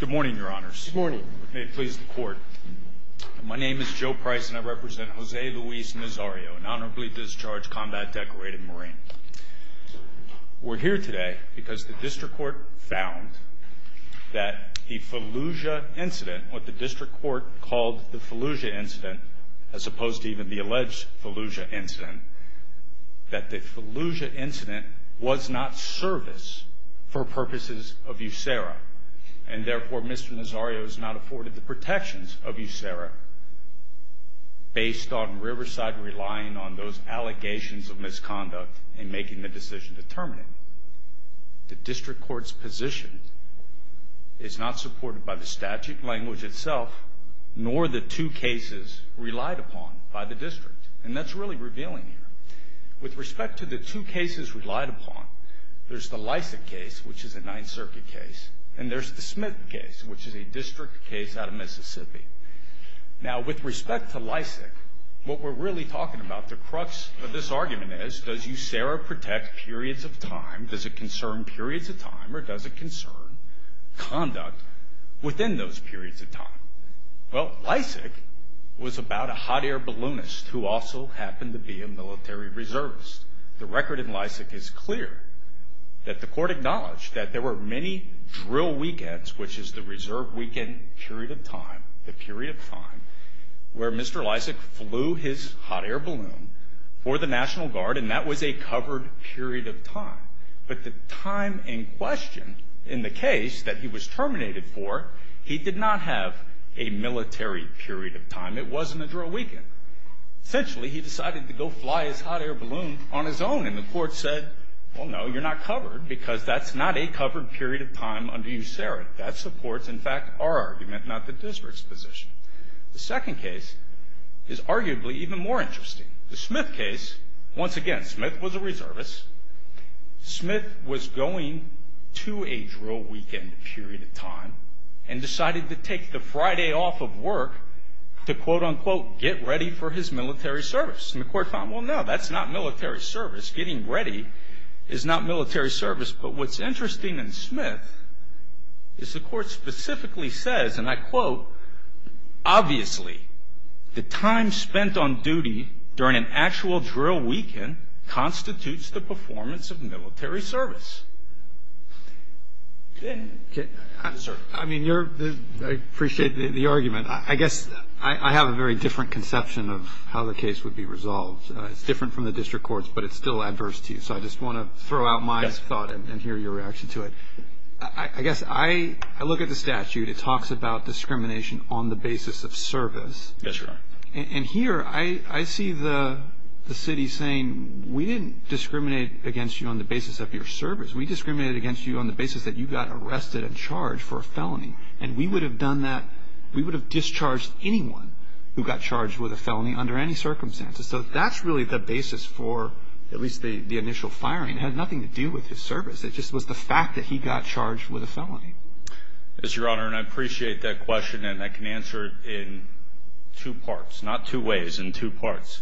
Good morning, Your Honors. Good morning. May it please the Court. My name is Joe Price and I represent Jose Luis Nazario, an honorably discharged combat decorated Marine. We're here today because the District Court found that the Fallujah incident, what the District Court called the Fallujah incident, as opposed to even the alleged Fallujah incident, that the Fallujah incident was not service for purposes of USARA. And therefore, Mr. Nazario has not afforded the protections of USARA based on Riverside relying on those allegations of misconduct in making the decision to terminate. The District Court's position is not supported by the statute language itself, nor the two cases relied upon by the District. And that's really revealing here. With respect to the two cases relied upon, there's the Lysak case, which is a Ninth Circuit case, and there's the Smith case, which is a District case out of Mississippi. Now with respect to Lysak, what we're really talking about, the crux of this argument is, does USARA protect periods of time, does it concern periods of time, or does it concern conduct within those periods of time? Well Lysak was about a hot air balloonist who also happened to be a military reservist. The record in Lysak is clear, that the court acknowledged that there were many drill weekends, which is the reserve weekend period of time, the period of time where Mr. Lysak flew his hot air balloon for the National Guard, and that was a covered period of time. But the time in question in the case that he was terminated for, he did not have a military period of time. It wasn't a drill weekend. Essentially he decided to go fly his hot air balloon on his own, and the court said, well no, you're not covered, because that's not a covered period of time under USARA. That supports, in fact, our argument, not the District's position. The second case is arguably even more interesting. The Smith case, once again, Smith was a reservist. Smith was going to a drill weekend period of time, and decided to take the Friday off of work to, quote, unquote, get ready for his military service. And the court thought, well no, that's not military service. Getting ready is not military service. But what's interesting in Smith is the court specifically says, and I quote, obviously, the time spent on duty during an actual drill weekend constitutes the performance of military service. I mean, I appreciate the argument. I guess I have a very different conception of how the case would be resolved. It's different from the District Court's, but it's still adverse to you. So I just want to throw out my thought and hear your reaction to it. I guess I look at the statute. It talks about discrimination on the basis of service. And here I see the city saying, we didn't discriminate against you on the basis of your service. We discriminated against you on the basis that you got arrested and charged for a felony. And we would have done that, we would have discharged anyone who got charged with a felony under any circumstances. So that's really the basis for at least the initial firing. It had nothing to do with his service. It just was the fact that he got charged with a felony. Yes, Your Honor, and I appreciate that question, and I can answer it in two parts. Not two ways, in two parts.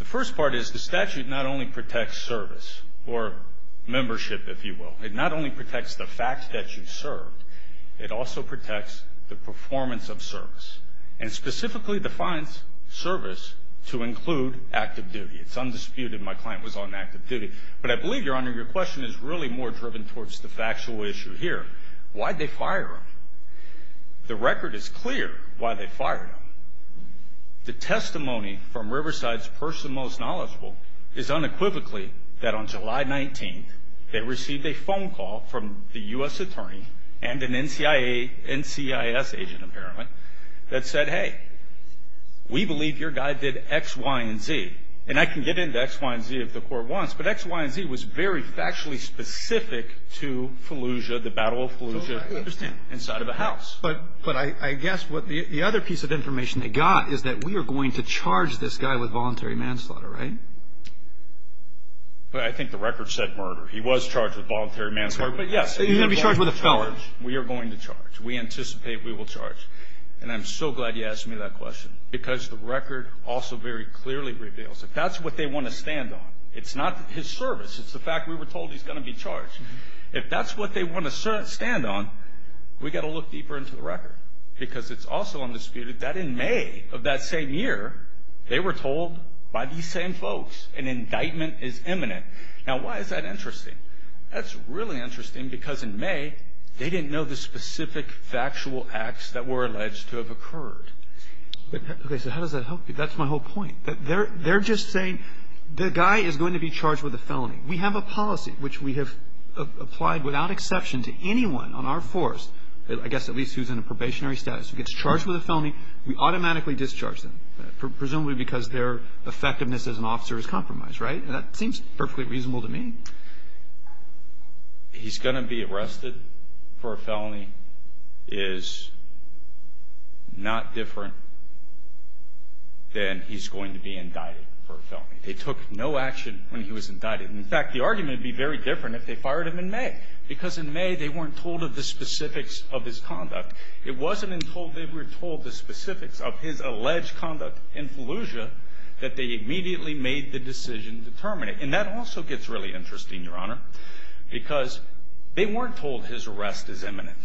The first part is the statute not only protects service, or membership if you will, it not only protects the fact that you served, it also protects the performance of service. And specifically defines service to include active duty. It's undisputed my client was on active duty. But I believe, Your Honor, your question is really more driven towards the factual issue here. Why'd they fire him? The record is clear why they fired him. The testimony from Riverside's person most knowledgeable is unequivocally that on July 19th, they received a phone call from the U.S. attorney and an NCIS agent apparently that said, hey, we believe your guy did X, Y, and Z. And I can get into X, Y, and Z if the court wants, but X, Y, and Z was very factually specific to Fallujah, the Battle of Fallujah, inside of a house. But I guess what the other piece of information they got is that we are going to charge this guy with voluntary manslaughter, right? I think the record said murder. He was charged with voluntary manslaughter, but yes. He's going to be charged with a felony. We are going to charge. We anticipate we will charge. And I'm so glad you asked me that question. Because the record also very clearly reveals, if that's what they want to stand on, it's not his service, it's the fact we were told he's going to be charged. If that's what they want to stand on, we've got to look deeper into the record. Because it's also undisputed that in May of that same year, they were told by these same folks, an indictment is imminent. Now, why is that interesting? That's really interesting because in May, they didn't know the specific factual acts that were alleged to have occurred. Okay, so how does that help you? That's my whole point. They're just saying the guy is going to be charged with a felony. We have a policy, which we have applied without exception to anyone on our force, I guess at least who's in a probationary status, who gets charged with a felony, we automatically discharge them, presumably because their effectiveness as an officer is compromised, right? That seems perfectly reasonable to me. He's going to be arrested for a felony is not different than he's going to be indicted for a felony. They took no action when he was indicted. In fact, the argument would be very different if they fired him in May. Because in May, they weren't told of the specifics of his conduct. It wasn't until they were told the specifics of his alleged conduct in Fallujah that they immediately made the decision to terminate. And that also gets really interesting, Your Honor, because they weren't told his arrest is imminent.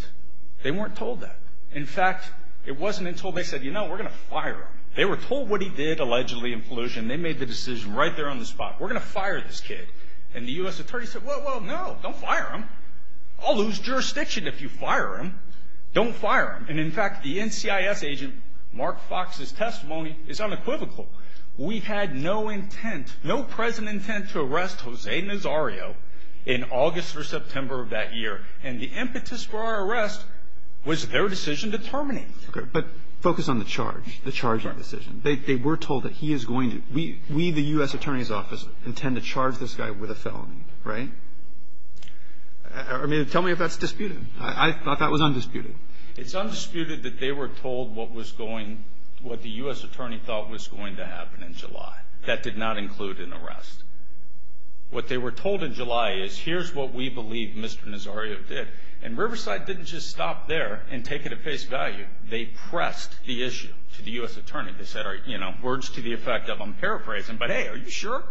They weren't told that. In fact, it wasn't until they said, you know, we're going to fire him. They were told what he did allegedly in Fallujah. And they made the decision right there on the spot, we're going to fire this kid. And the U.S. attorney said, well, no, don't fire him. I'll lose jurisdiction if you fire him. Don't fire him. And in fact, the NCIS agent, Mark Fox's testimony is unequivocal. We had no intent, no present intent to arrest Jose Nazario in August or September of that year. And the impetus for our arrest was their decision to terminate. But focus on the charge, the charging decision. They were told that he is going to, we, the U.S. attorney's office, intend to charge this guy with a felony, right? I mean, tell me if that's disputed. I thought that was undisputed. It's undisputed that they were told what was going, what the U.S. attorney thought was going to happen in July. That did not include an arrest. What they were told in July is, here's what we believe Mr. Nazario did. And Riverside didn't just stop there and take it at face value. They pressed the issue to the U.S. attorney. They said, you know, words to the effect of, I'm paraphrasing, but hey, are you sure?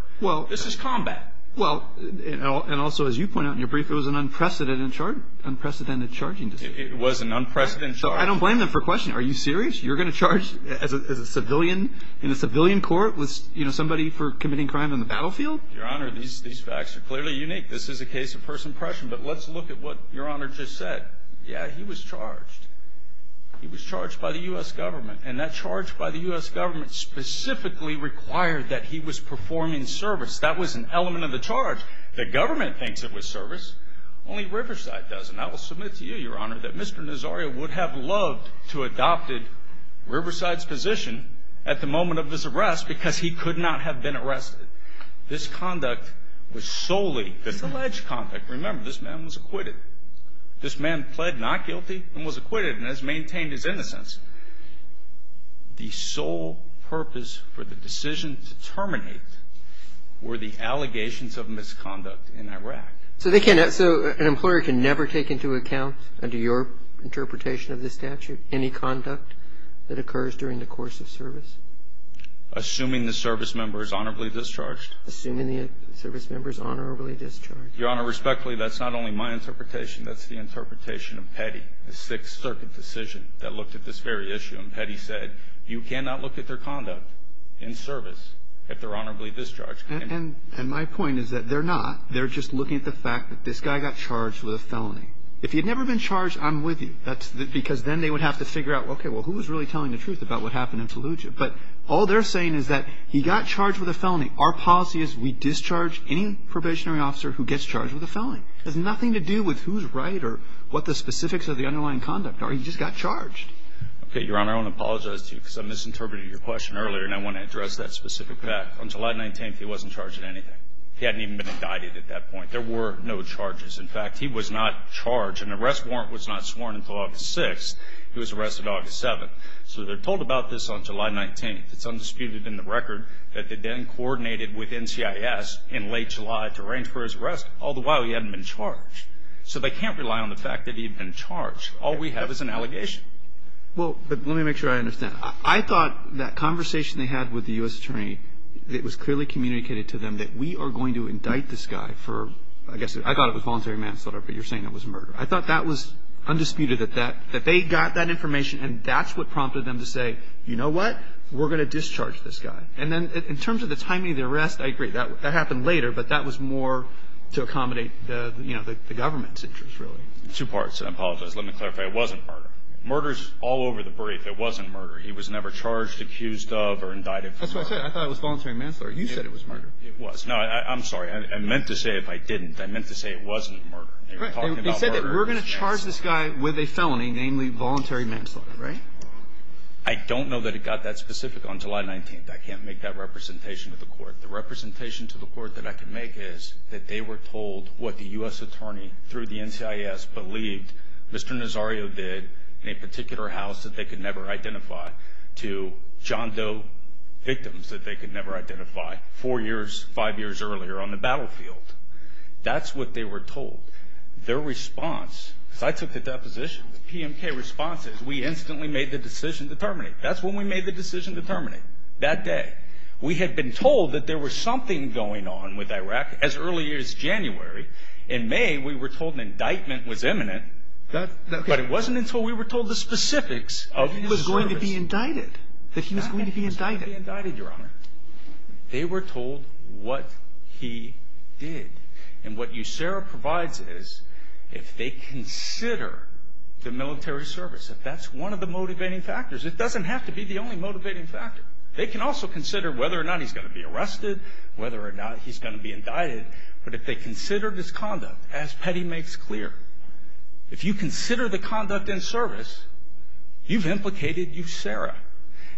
This is combat. Well, and also, as you point out in your brief, it was an unprecedented charge, unprecedented charging decision. It was an unprecedented charge. I don't blame them for questioning. Are you serious? You're going to charge as a civilian, in a civilian court, with somebody for committing crime on the battlefield? Your Honor, these facts are clearly unique. This is a case of first impression, but let's look at what Your Honor just said. Yeah, he was charged. He was charged by the U.S. government. And that charge by the U.S. government specifically required that he was performing service. That was an element of the charge. The government thinks it was service. Only Riverside doesn't. I will submit to you, Your Honor, that Mr. Nazario would have loved to have adopted Riverside's position at the moment of his arrest because he could not have been arrested. This conduct was solely, this alleged conduct, remember, this man was acquitted. This man pled not guilty and was acquitted and has maintained his innocence. The sole purpose for the decision to terminate were the allegations of misconduct in Iraq. So they can't, so an employer can never take into account, under your interpretation of the statute, any conduct that occurs during the course of service? Assuming the service member is honorably discharged. Assuming the service member is honorably discharged. Your Honor, respectfully, that's not only my interpretation, that's the interpretation of Petty, the Sixth Circuit decision that looked at this very issue. And Petty said, you cannot look at their conduct in service if they're honorably discharged. And my point is that they're not. They're just looking at the fact that this guy got charged with a felony. If he had never been charged, I'm with you. That's because then they would have to figure out, okay, well, who was really telling the truth about what happened in Fallujah? But all they're saying is that he got charged with a felony. Our policy is we discharge any probationary officer who gets charged with a felony. It has nothing to do with who's right or what the specifics of the underlying conduct are, he just got charged. Okay, Your Honor, I want to apologize to you because I misinterpreted your question earlier and I want to address that specific fact. On July 19th, he wasn't charged with anything. He hadn't even been indicted at that point. There were no charges. In fact, he was not charged. An arrest warrant was not sworn until August 6th. He was arrested August 7th. So they're told about this on July 19th. It's undisputed in the record that they then coordinated with NCIS in late July to arrange for his arrest, all the while he hadn't been charged. So they can't rely on the fact that he'd been charged. All we have is an allegation. Well, but let me make sure I understand. I thought that conversation they had with the U.S. Attorney, it was clearly communicated to them that we are going to indict this guy for, I guess, I thought it was voluntary manslaughter, but you're saying it was murder. I thought that was undisputed, that they got that information and that's what prompted them to say, you know what, we're going to discharge this guy. And then in terms of the timing of the arrest, I agree. That happened later, but that was more to accommodate the, you know, the government's interest, really. Two parts. I apologize. Let me clarify. It wasn't murder. Murder's all over the brief. It wasn't murder. He was never charged, accused of, or indicted for murder. That's what I said. I thought it was voluntary manslaughter. You said it was murder. It was. No, I'm sorry. I meant to say if I didn't. I meant to say it wasn't murder. They were talking about murder as manslaughter. They said that we're going to charge this guy with a felony, namely voluntary manslaughter, right? I don't know that it got that specific on July 19th. I can't make that representation to the court. The representation to the court that I can make is that they were told what the U.S. attorney, through the NCIS, believed Mr. Nazario did in a particular house that they could never identify to John Doe victims that they could never identify four years, five years earlier on the battlefield. That's what they were told. Their response, because I took the deposition, the PMK response is we instantly made the decision to terminate. That's when we made the decision to terminate, that day. We had been told that there was something going on with Iraq as early as January. In May, we were told an indictment was imminent, but it wasn't until we were told the specifics of the service. He was going to be indicted. That he was going to be indicted. He was going to be indicted, Your Honor. They were told what he did. And what USERRA provides is if they consider the military service, if that's one of the motivating factors, it doesn't have to be the only motivating factor. They can also consider whether or not he's going to be arrested, whether or not he's going to be indicted, but if they consider this conduct, as Petty makes clear, if you consider the conduct and service, you've implicated USERRA.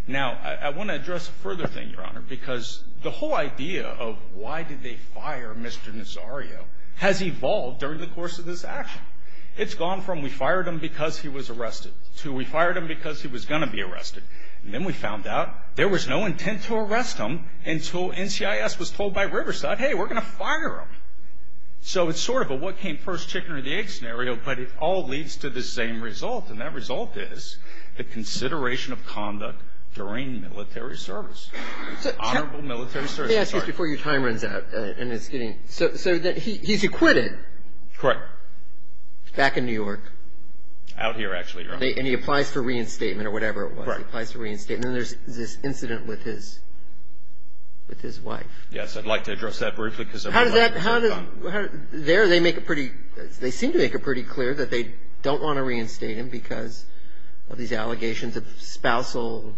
Now, I want to address a further thing, Your Honor, because the whole idea of why did they fire Mr. Nazario has evolved during the course of this action. It's gone from we fired him because he was arrested to we fired him because he was going to be arrested. And then we found out there was no intent to arrest him until NCIS was told by Riverside, hey, we're going to fire him. So it's sort of a what came first, chicken or the egg scenario, but it all leads to the same result. And that result is the consideration of conduct during military service, honorable military service. Let me ask you this before your time runs out, and it's getting so that he's acquitted. Correct. Back in New York. Out here, actually, Your Honor. And he applies for reinstatement or whatever it was. He applies for reinstatement. And then there's this incident with his wife. Yes, I'd like to address that briefly because I'm running out of time. How does that, how does, there they make it pretty, they seem to make it pretty clear that they don't want to reinstate him because of these allegations of spousal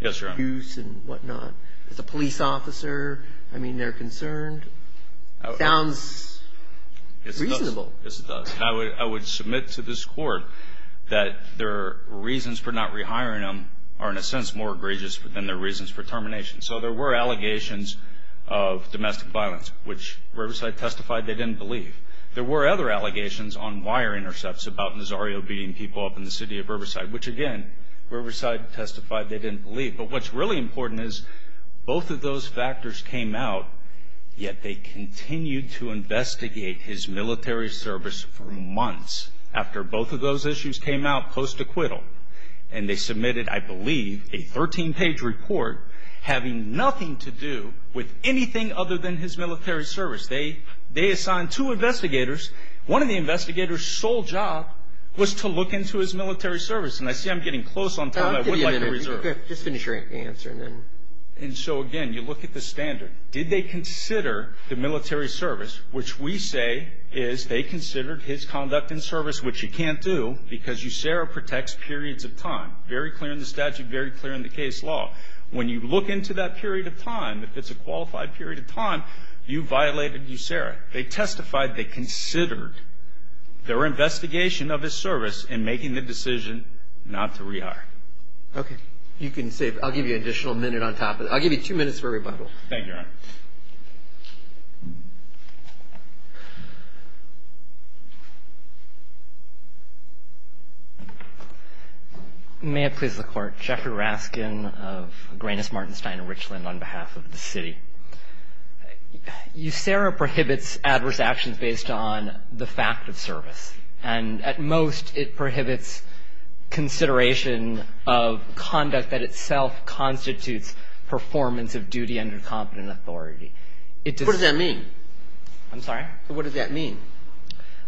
use and whatnot. The police officer, I mean, they're concerned. It sounds reasonable. Yes, it does. And I would submit to this court that their reasons for not rehiring him are, in a sense, more egregious than their reasons for termination. So there were allegations of domestic violence, which Riverside testified they didn't believe. There were other allegations on wire intercepts about Nazario beating people up in the city of Riverside, which again, Riverside testified they didn't believe. But what's really important is both of those factors came out, yet they continued to investigate his military service for months after both of those issues came out post-acquittal. And they submitted, I believe, a 13-page report having nothing to do with anything other than his military service. They assigned two investigators. One of the investigators' sole job was to look into his military service. And I see I'm getting close on time. I would like to reserve. Okay. Just finish your answer and then. And so again, you look at the standard. Did they consider the military service, which we say is they considered his conduct and service, which you can't do because USERA protects periods of time. Very clear in the statute, very clear in the case law. When you look into that period of time, if it's a qualified period of time, you violated USERA. They testified they considered their investigation of his service in making the decision not to rehire. Okay. You can save. I'll give you an additional minute on top of it. I'll give you two minutes for rebuttal. Thank you, Your Honor. May it please the Court. Jeffrey Raskin of Greenis, Martenstein and Richland on behalf of the city. USERA prohibits adverse actions based on the fact of service. And at most, it prohibits consideration of conduct that itself constitutes performance of duty under competent authority. What does that mean? I'm sorry? What does that mean?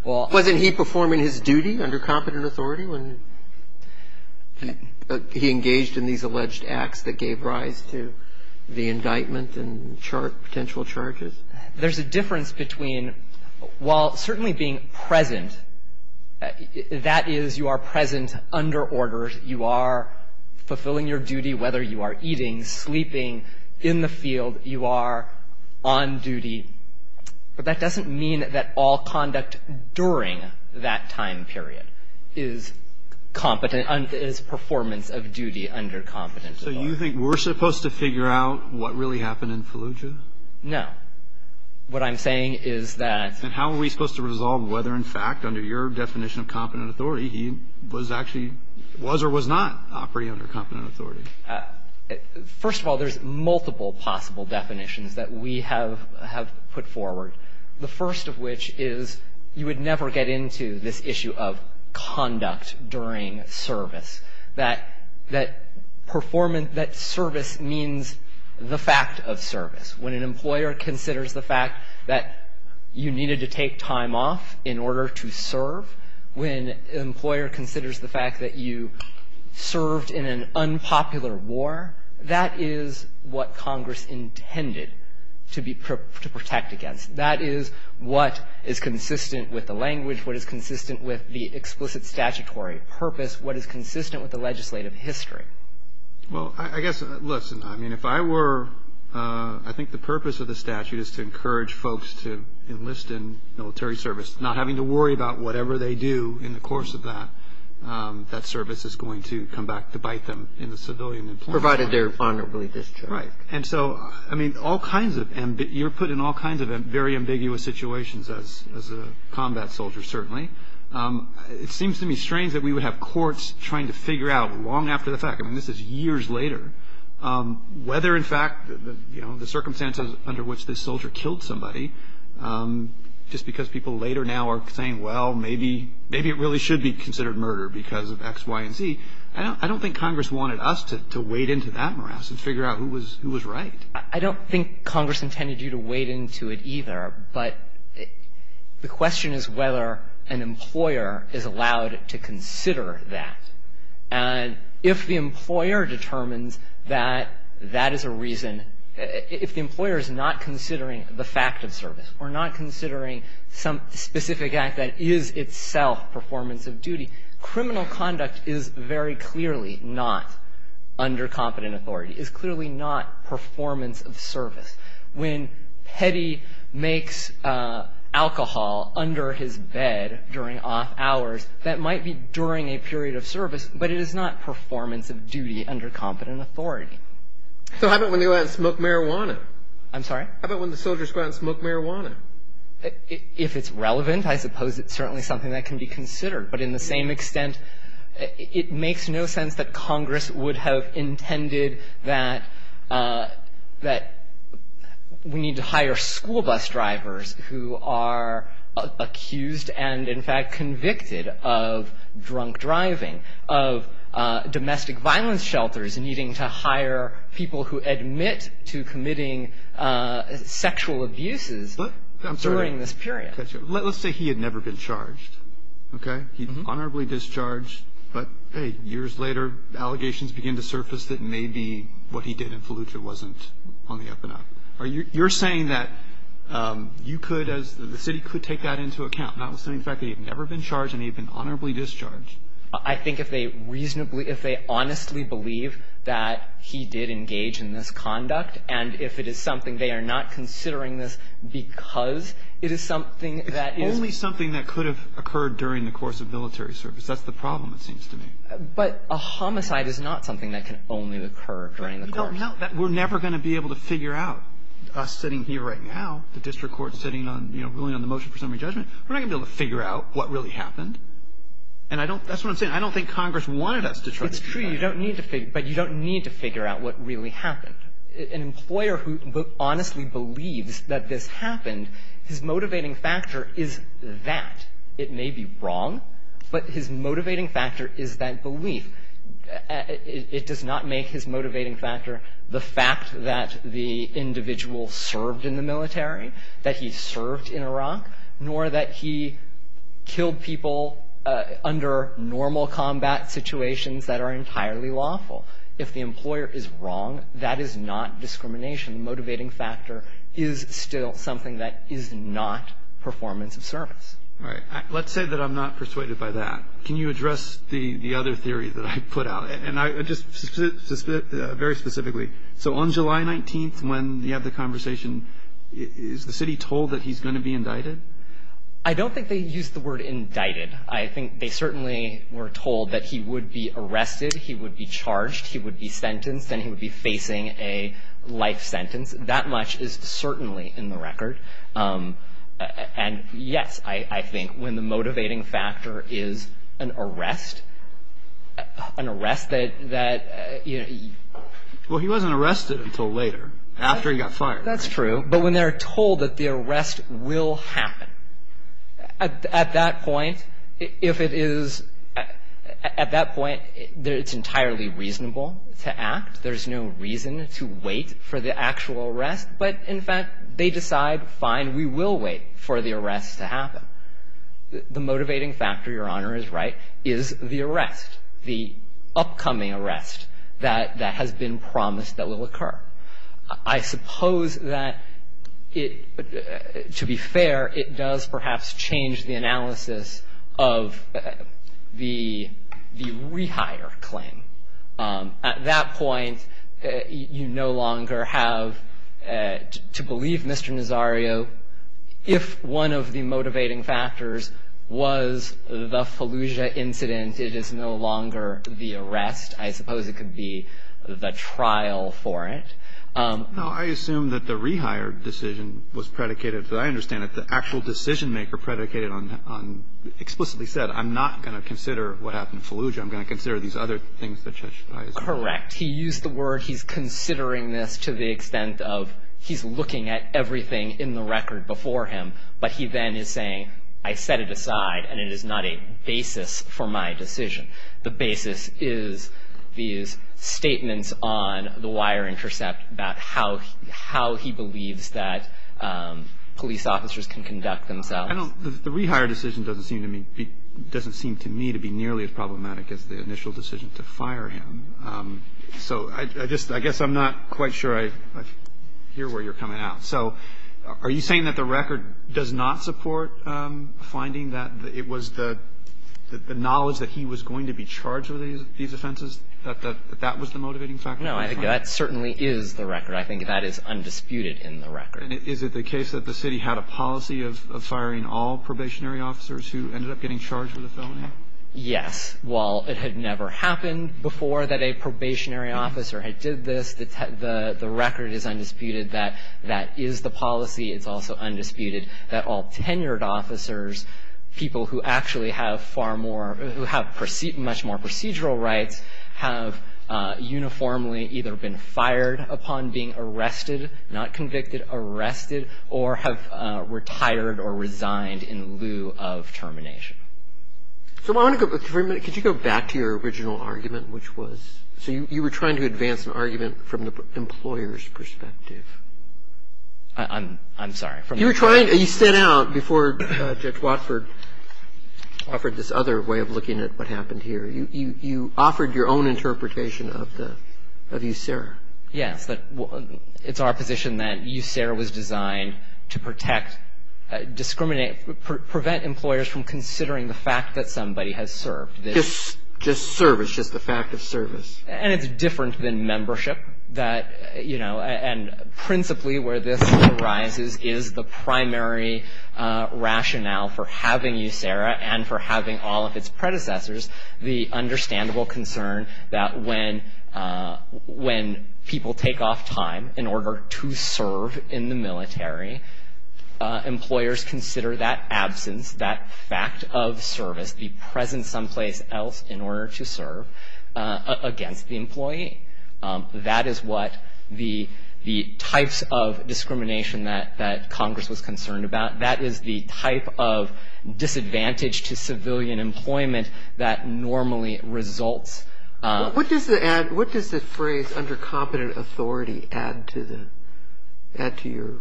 Wasn't he performing his duty under competent authority when he engaged in these alleged acts that gave rise to the indictment and potential charges? There's a difference between while certainly being present, that is, you are present under orders, you are fulfilling your duty, whether you are eating, sleeping, in the field, you are on duty. But that doesn't mean that all conduct during that time period is competent and is performance of duty under competent authority. So you think we're supposed to figure out what really happened in Fallujah? No. What I'm saying is that And how are we supposed to resolve whether, in fact, under your definition of competent authority, he was actually, was or was not operating under competent authority? First of all, there's multiple possible definitions that we have put forward. The first of which is you would never get into this issue of conduct during service. That performance, that service means the fact of service. When an employer considers the fact that you needed to take time off in order to serve, when an employer considers the fact that you served in an unpopular war, that is what Congress intended to protect against. That is what is consistent with the language, what is consistent with the explicit statutory purpose, what is consistent with the legislative history. Well, I guess, listen, I mean, if I were, I think the purpose of the statute is to encourage folks to enlist in military service, not having to worry about whatever they do in the course of that. That service is going to come back to bite them in the civilian employment. Provided they're honorably discharged. Right. And so, I mean, all kinds of, you're put in all kinds of very ambiguous situations as a combat soldier, certainly. It seems to me strange that we would have courts trying to figure out long after the fact. I mean, this is years later, whether, in fact, you know, the circumstances under which this soldier killed somebody, just because people later now are saying, well, maybe it really should be considered murder because of X, Y, and Z. I don't think Congress wanted us to wade into that morass and figure out who was right. I don't think Congress intended you to wade into it either. But the question is whether an employer is allowed to consider that. And if the employer determines that that is a reason, if the employer is not considering the fact of service or not considering some specific act that is itself performance of duty, criminal conduct is very clearly not under competent authority, is clearly not performance of service. When Petty makes alcohol under his bed during off hours, that might be during a period of service, but it is not performance of duty under competent authority. So how about when they go out and smoke marijuana? I'm sorry? How about when the soldiers go out and smoke marijuana? If it's relevant, I suppose it's certainly something that can be considered. But in the same extent, it makes no sense that Congress would have intended that we need to hire school bus drivers who are accused and, in fact, convicted of drunk driving, of domestic violence shelters, needing to hire people who admit to committing sexual abuses during this period. Let's say he had never been charged. Okay? He's honorably discharged, but, hey, years later, allegations begin to surface that maybe what he did in Fallujah wasn't on the up and up. You're saying that you could, as the city, could take that into account, notwithstanding the fact that he had never been charged and he had been honorably discharged? I think if they reasonably, if they honestly believe that he did engage in this conduct and if it is something they are not considering this because it is something that is... ...occurred during the course of military service. That's the problem, it seems to me. But a homicide is not something that can only occur during the course. But we don't know. We're never going to be able to figure out, us sitting here right now, the district court sitting on, you know, ruling on the motion for summary judgment. We're not going to be able to figure out what really happened. And I don't, that's what I'm saying. I don't think Congress wanted us to... It's true. You don't need to figure, but you don't need to figure out what really happened. An employer who honestly believes that this happened, his motivating factor is that. It may be wrong, but his motivating factor is that belief. It does not make his motivating factor the fact that the individual served in the military, that he served in Iraq, nor that he killed people under normal combat situations that are entirely lawful. If the employer is wrong, that is not discrimination. The motivating factor is still something that is not performance of service. All right. Let's say that I'm not persuaded by that. Can you address the other theory that I put out? And just very specifically, so on July 19th, when you have the conversation, is the city told that he's going to be indicted? I don't think they used the word indicted. I think they certainly were told that he would be arrested, he would be charged, he would be sentenced, and he would be facing a life sentence. That much is certainly in the record. And, yes, I think when the motivating factor is an arrest, an arrest that, you know. Well, he wasn't arrested until later, after he got fired. That's true. But when they're told that the arrest will happen, at that point, if it is, at that point, it's entirely reasonable to act. There's no reason to wait for the actual arrest. But, in fact, they decide, fine, we will wait for the arrest to happen. The motivating factor, Your Honor is right, is the arrest, the upcoming arrest that has been promised that will occur. I suppose that, to be fair, it does perhaps change the analysis of the rehire claim. At that point, you no longer have to believe Mr. Nazario. If one of the motivating factors was the Fallujah incident, it is no longer the arrest. I suppose it could be the trial for it. No, I assume that the rehire decision was predicated, as I understand it, the actual decision-maker predicated on, explicitly said, I'm not going to consider what happened to Fallujah. I'm going to consider these other things that Judge Ayers made. Correct. He used the word he's considering this to the extent of he's looking at everything in the record before him. But he then is saying, I set it aside, and it is not a basis for my decision. The basis is these statements on the wire intercept about how he believes that police officers can conduct themselves. The rehire decision doesn't seem to me to be nearly as problematic as the initial decision to fire him. So I guess I'm not quite sure I hear where you're coming out. So are you saying that the record does not support finding that it was the knowledge that he was going to be charged with these offenses, that that was the motivating factor? No, that certainly is the record. I think that is undisputed in the record. And is it the case that the city had a policy of firing all probationary officers who ended up getting charged with a felony? Yes. While it had never happened before that a probationary officer had did this, the record is undisputed that that is the policy. It's also undisputed that all tenured officers, people who actually have much more procedural rights, have uniformly either been fired upon being arrested, not convicted, arrested, or have retired or resigned in lieu of termination. So could you go back to your original argument, which was So you were trying to advance an argument from the employer's perspective. I'm sorry. You stood out before Judge Watford offered this other way of looking at what happened here. You offered your own interpretation of USERRA. Yes. It's our position that USERRA was designed to protect, discriminate, prevent employers from considering the fact that somebody has served. Just service, just the fact of service. And it's different than membership that, you know, and principally where this arises is the primary rationale for having USERRA and for having all of its predecessors the understandable concern that when people take off time in order to serve in the military, employers consider that absence, that fact of service, the presence someplace else in order to serve against the employee. That is what the types of discrimination that Congress was concerned about. That is the type of disadvantage to civilian employment that normally results. What does the phrase under competent authority add to your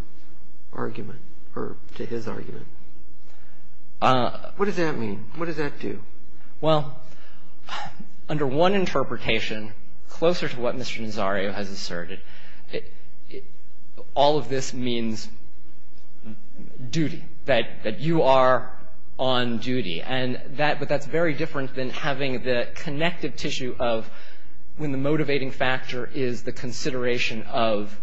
argument or to his argument? What does that mean? What does that do? Well, under one interpretation, closer to what Mr. Nazario has asserted, all of this means duty, that you are on duty. But that's very different than having the connective tissue of when the motivating factor is the consideration of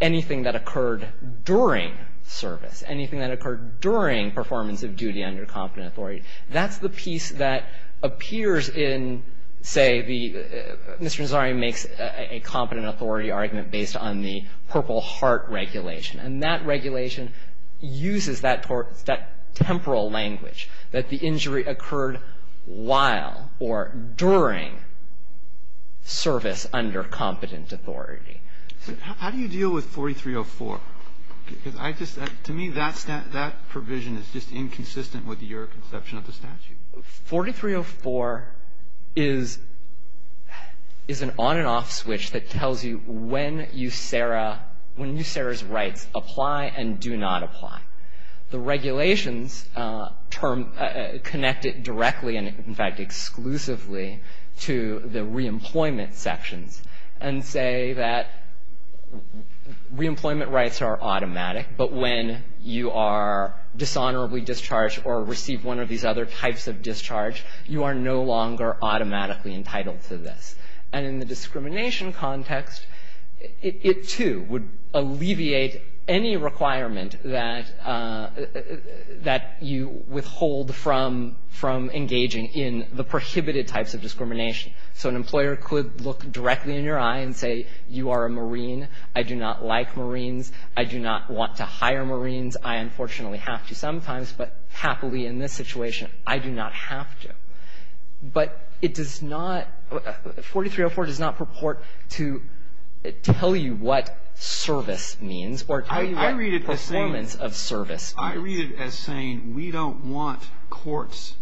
anything that occurred during service, anything that occurred during performance of duty under competent authority. That's the piece that appears in, say, the Mr. Nazario makes a competent authority argument based on the Purple Heart Regulation. And that regulation uses that temporal language that the injury occurred while or during service under competent authority. How do you deal with 4304? Because I just, to me, that provision is just inconsistent with your conception of the statute. 4304 is an on and off switch that tells you when you, Sarah, when you, Sarah's rights apply and do not apply. The regulations term, connect it directly and, in fact, to the reemployment sections and say that reemployment rights are automatic, but when you are dishonorably discharged or receive one of these other types of discharge, you are no longer automatically entitled to this. And in the discrimination context, it, too, would alleviate any requirement that, that you withhold from engaging in the prohibited types of discrimination. So an employer could look directly in your eye and say, you are a Marine. I do not like Marines. I do not want to hire Marines. I unfortunately have to sometimes, but happily in this situation, I do not have to. But it does not, 4304 does not purport to tell you what service means or tell you what performance of service means. I read it as saying we don't want courts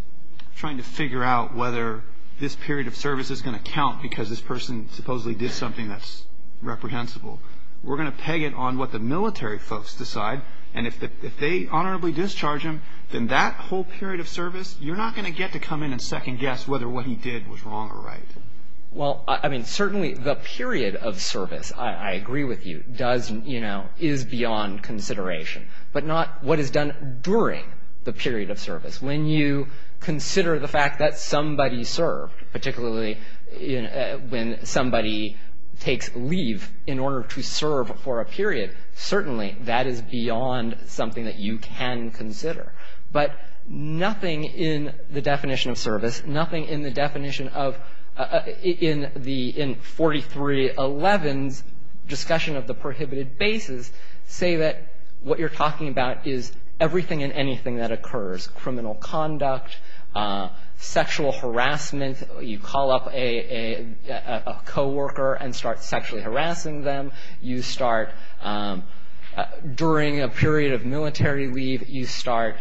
trying to figure out whether this period of service is going to count because this person supposedly did something that's reprehensible. We're going to peg it on what the military folks decide, and if they honorably discharge him, then that whole period of service, you're not going to get to come in and second guess whether what he did was wrong or right. Well, I mean, certainly the period of service, I agree with you, does, you know, is beyond consideration. But not what is done during the period of service. When you consider the fact that somebody served, particularly when somebody takes leave in order to serve for a period, certainly that is beyond something that you can consider. But nothing in the definition of service, nothing in the definition of, in 4311's discussion of the prohibited bases, say that what you're talking about is everything and anything that occurs, criminal conduct, sexual harassment. You call up a coworker and start sexually harassing them. You start, during a period of military leave, you start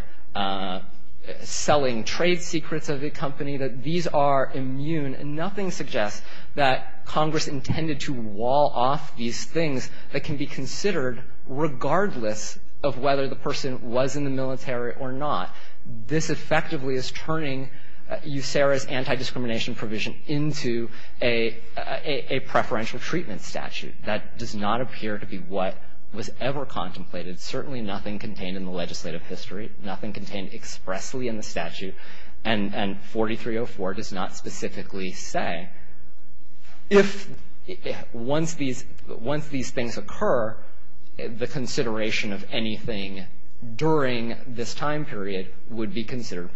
selling trade secrets of the company. These are immune. And nothing suggests that Congress intended to wall off these things that can be considered regardless of whether the person was in the military or not. This effectively is turning USERRA's anti-discrimination provision into a preferential treatment statute that does not appear to be what was ever contemplated. Certainly nothing contained in the legislative history. Nothing contained expressly in the statute. And 4304 does not specifically say if, once these things occur, the consideration of anything during this time period would be considered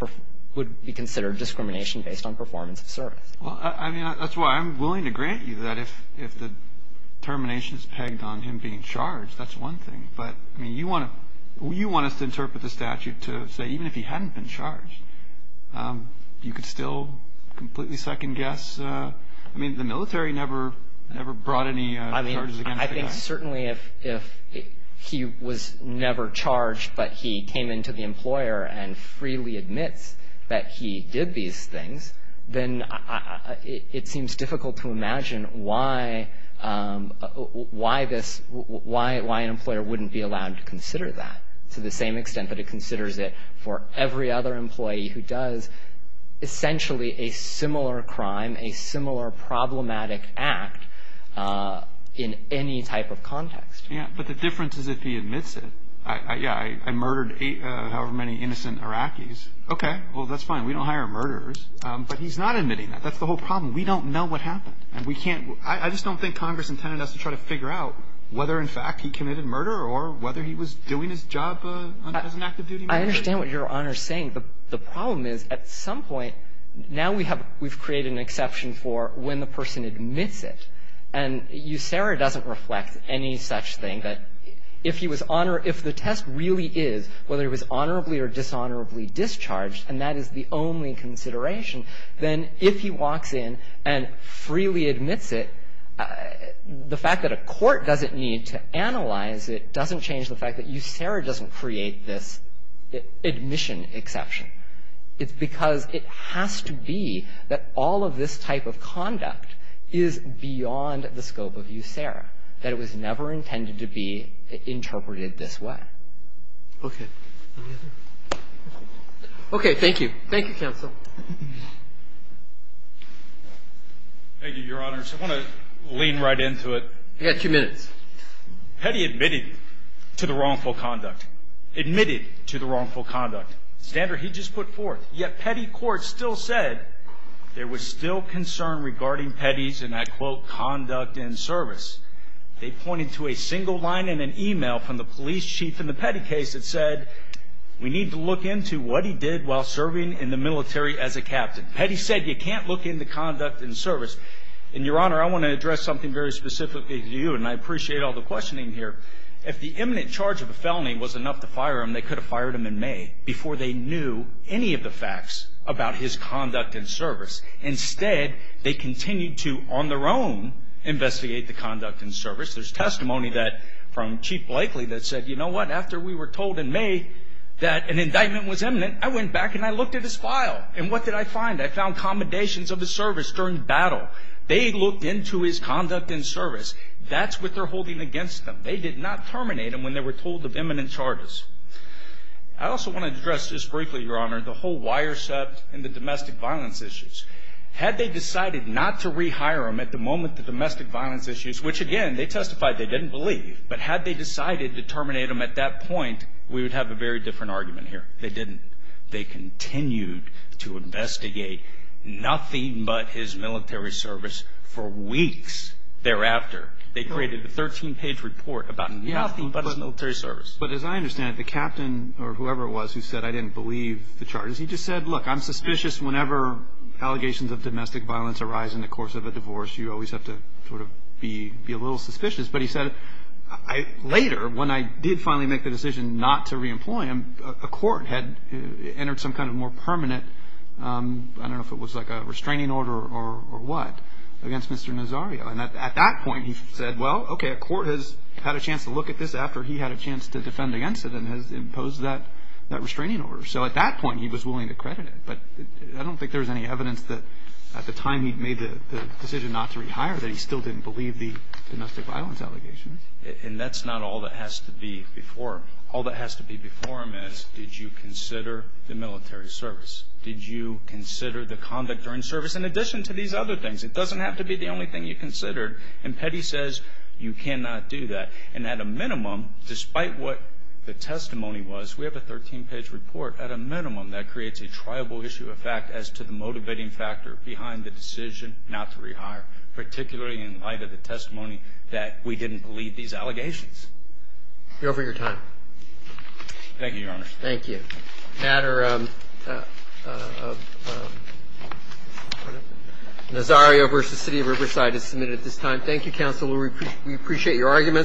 discrimination based on performance of service. Well, I mean, that's why I'm willing to grant you that if the termination is pegged on him being charged, that's one thing. But, I mean, you want us to interpret the statute to say even if he hadn't been charged, you could still completely second guess? I mean, the military never brought any charges against the guy. I think certainly if he was never charged but he came into the employer and freely admits that he did these things, then it seems difficult to imagine why an employer wouldn't be allowed to consider that to the same extent that it considers it for every other employee who does essentially a similar crime, a similar problematic act in any type of context. Yeah, but the difference is if he admits it. Yeah, I murdered however many innocent Iraqis. Okay. Well, that's fine. We don't hire murderers. But he's not admitting that. That's the whole problem. We don't know what happened. And we can't – I just don't think Congress intended us to try to figure out whether in fact he committed murder or whether he was doing his job as an active duty military. I understand what Your Honor is saying. The problem is at some point now we have – we've created an exception for when the person admits it. And USERA doesn't reflect any such thing that if he was – if the test really is whether he was honorably or dishonorably discharged, and that is the only consideration, then if he walks in and freely admits it, the fact that a court doesn't need to analyze it doesn't change the fact that USERA doesn't create this admission exception. It's because it has to be that all of this type of conduct is beyond the scope of USERA, that it was never intended to be interpreted this way. Okay. Any other? Okay. Thank you. Thank you, counsel. Thank you, Your Honors. I want to lean right into it. You've got two minutes. Petty admitted to the wrongful conduct. Admitted to the wrongful conduct. Standard he just put forth. Yet Petty court still said there was still concern regarding Petty's, and I quote, wrongful conduct and service. They pointed to a single line in an email from the police chief in the Petty case that said, we need to look into what he did while serving in the military as a captain. Petty said you can't look into conduct and service. And, Your Honor, I want to address something very specifically to you, and I appreciate all the questioning here. If the imminent charge of a felony was enough to fire him, they could have fired him in May before they knew any of the facts about his conduct and service. Instead, they continued to, on their own, investigate the conduct and service. There's testimony from Chief Blakely that said, you know what, after we were told in May that an indictment was imminent, I went back and I looked at his file. And what did I find? I found commendations of his service during battle. They looked into his conduct and service. That's what they're holding against them. They did not terminate him when they were told of imminent charges. I also want to address just briefly, Your Honor, the whole wire set and the domestic violence issues. Had they decided not to rehire him at the moment the domestic violence issues, which again, they testified they didn't believe, but had they decided to terminate him at that point, we would have a very different argument here. They didn't. They continued to investigate nothing but his military service for weeks thereafter. They created a 13-page report about nothing but his military service. But as I understand it, the captain or whoever it was who said I didn't believe the charges, he just said, look, I'm suspicious whenever allegations of domestic violence arise in the course of a divorce, you always have to sort of be a little suspicious. But he said later, when I did finally make the decision not to reemploy him, a court had entered some kind of more permanent, I don't know if it was like a restraining order or what, against Mr. Nazario. And at that point he said, well, okay, the court has had a chance to look at this after he had a chance to defend against it and has imposed that restraining order. So at that point he was willing to credit it. But I don't think there's any evidence that at the time he made the decision not to rehire that he still didn't believe the domestic violence allegations. And that's not all that has to be before him. All that has to be before him is did you consider the military service? Did you consider the conduct during service in addition to these other things? It doesn't have to be the only thing you considered. And Petty says you cannot do that. And at a minimum, despite what the testimony was, we have a 13-page report at a minimum that creates a triable issue of fact as to the motivating factor behind the decision not to rehire, particularly in light of the testimony that we didn't believe these allegations. You're over your time. Thank you, Your Honor. Thank you. The matter of Nazario v. City of Riverside is submitted at this time. Thank you, Counsel. We appreciate your arguments.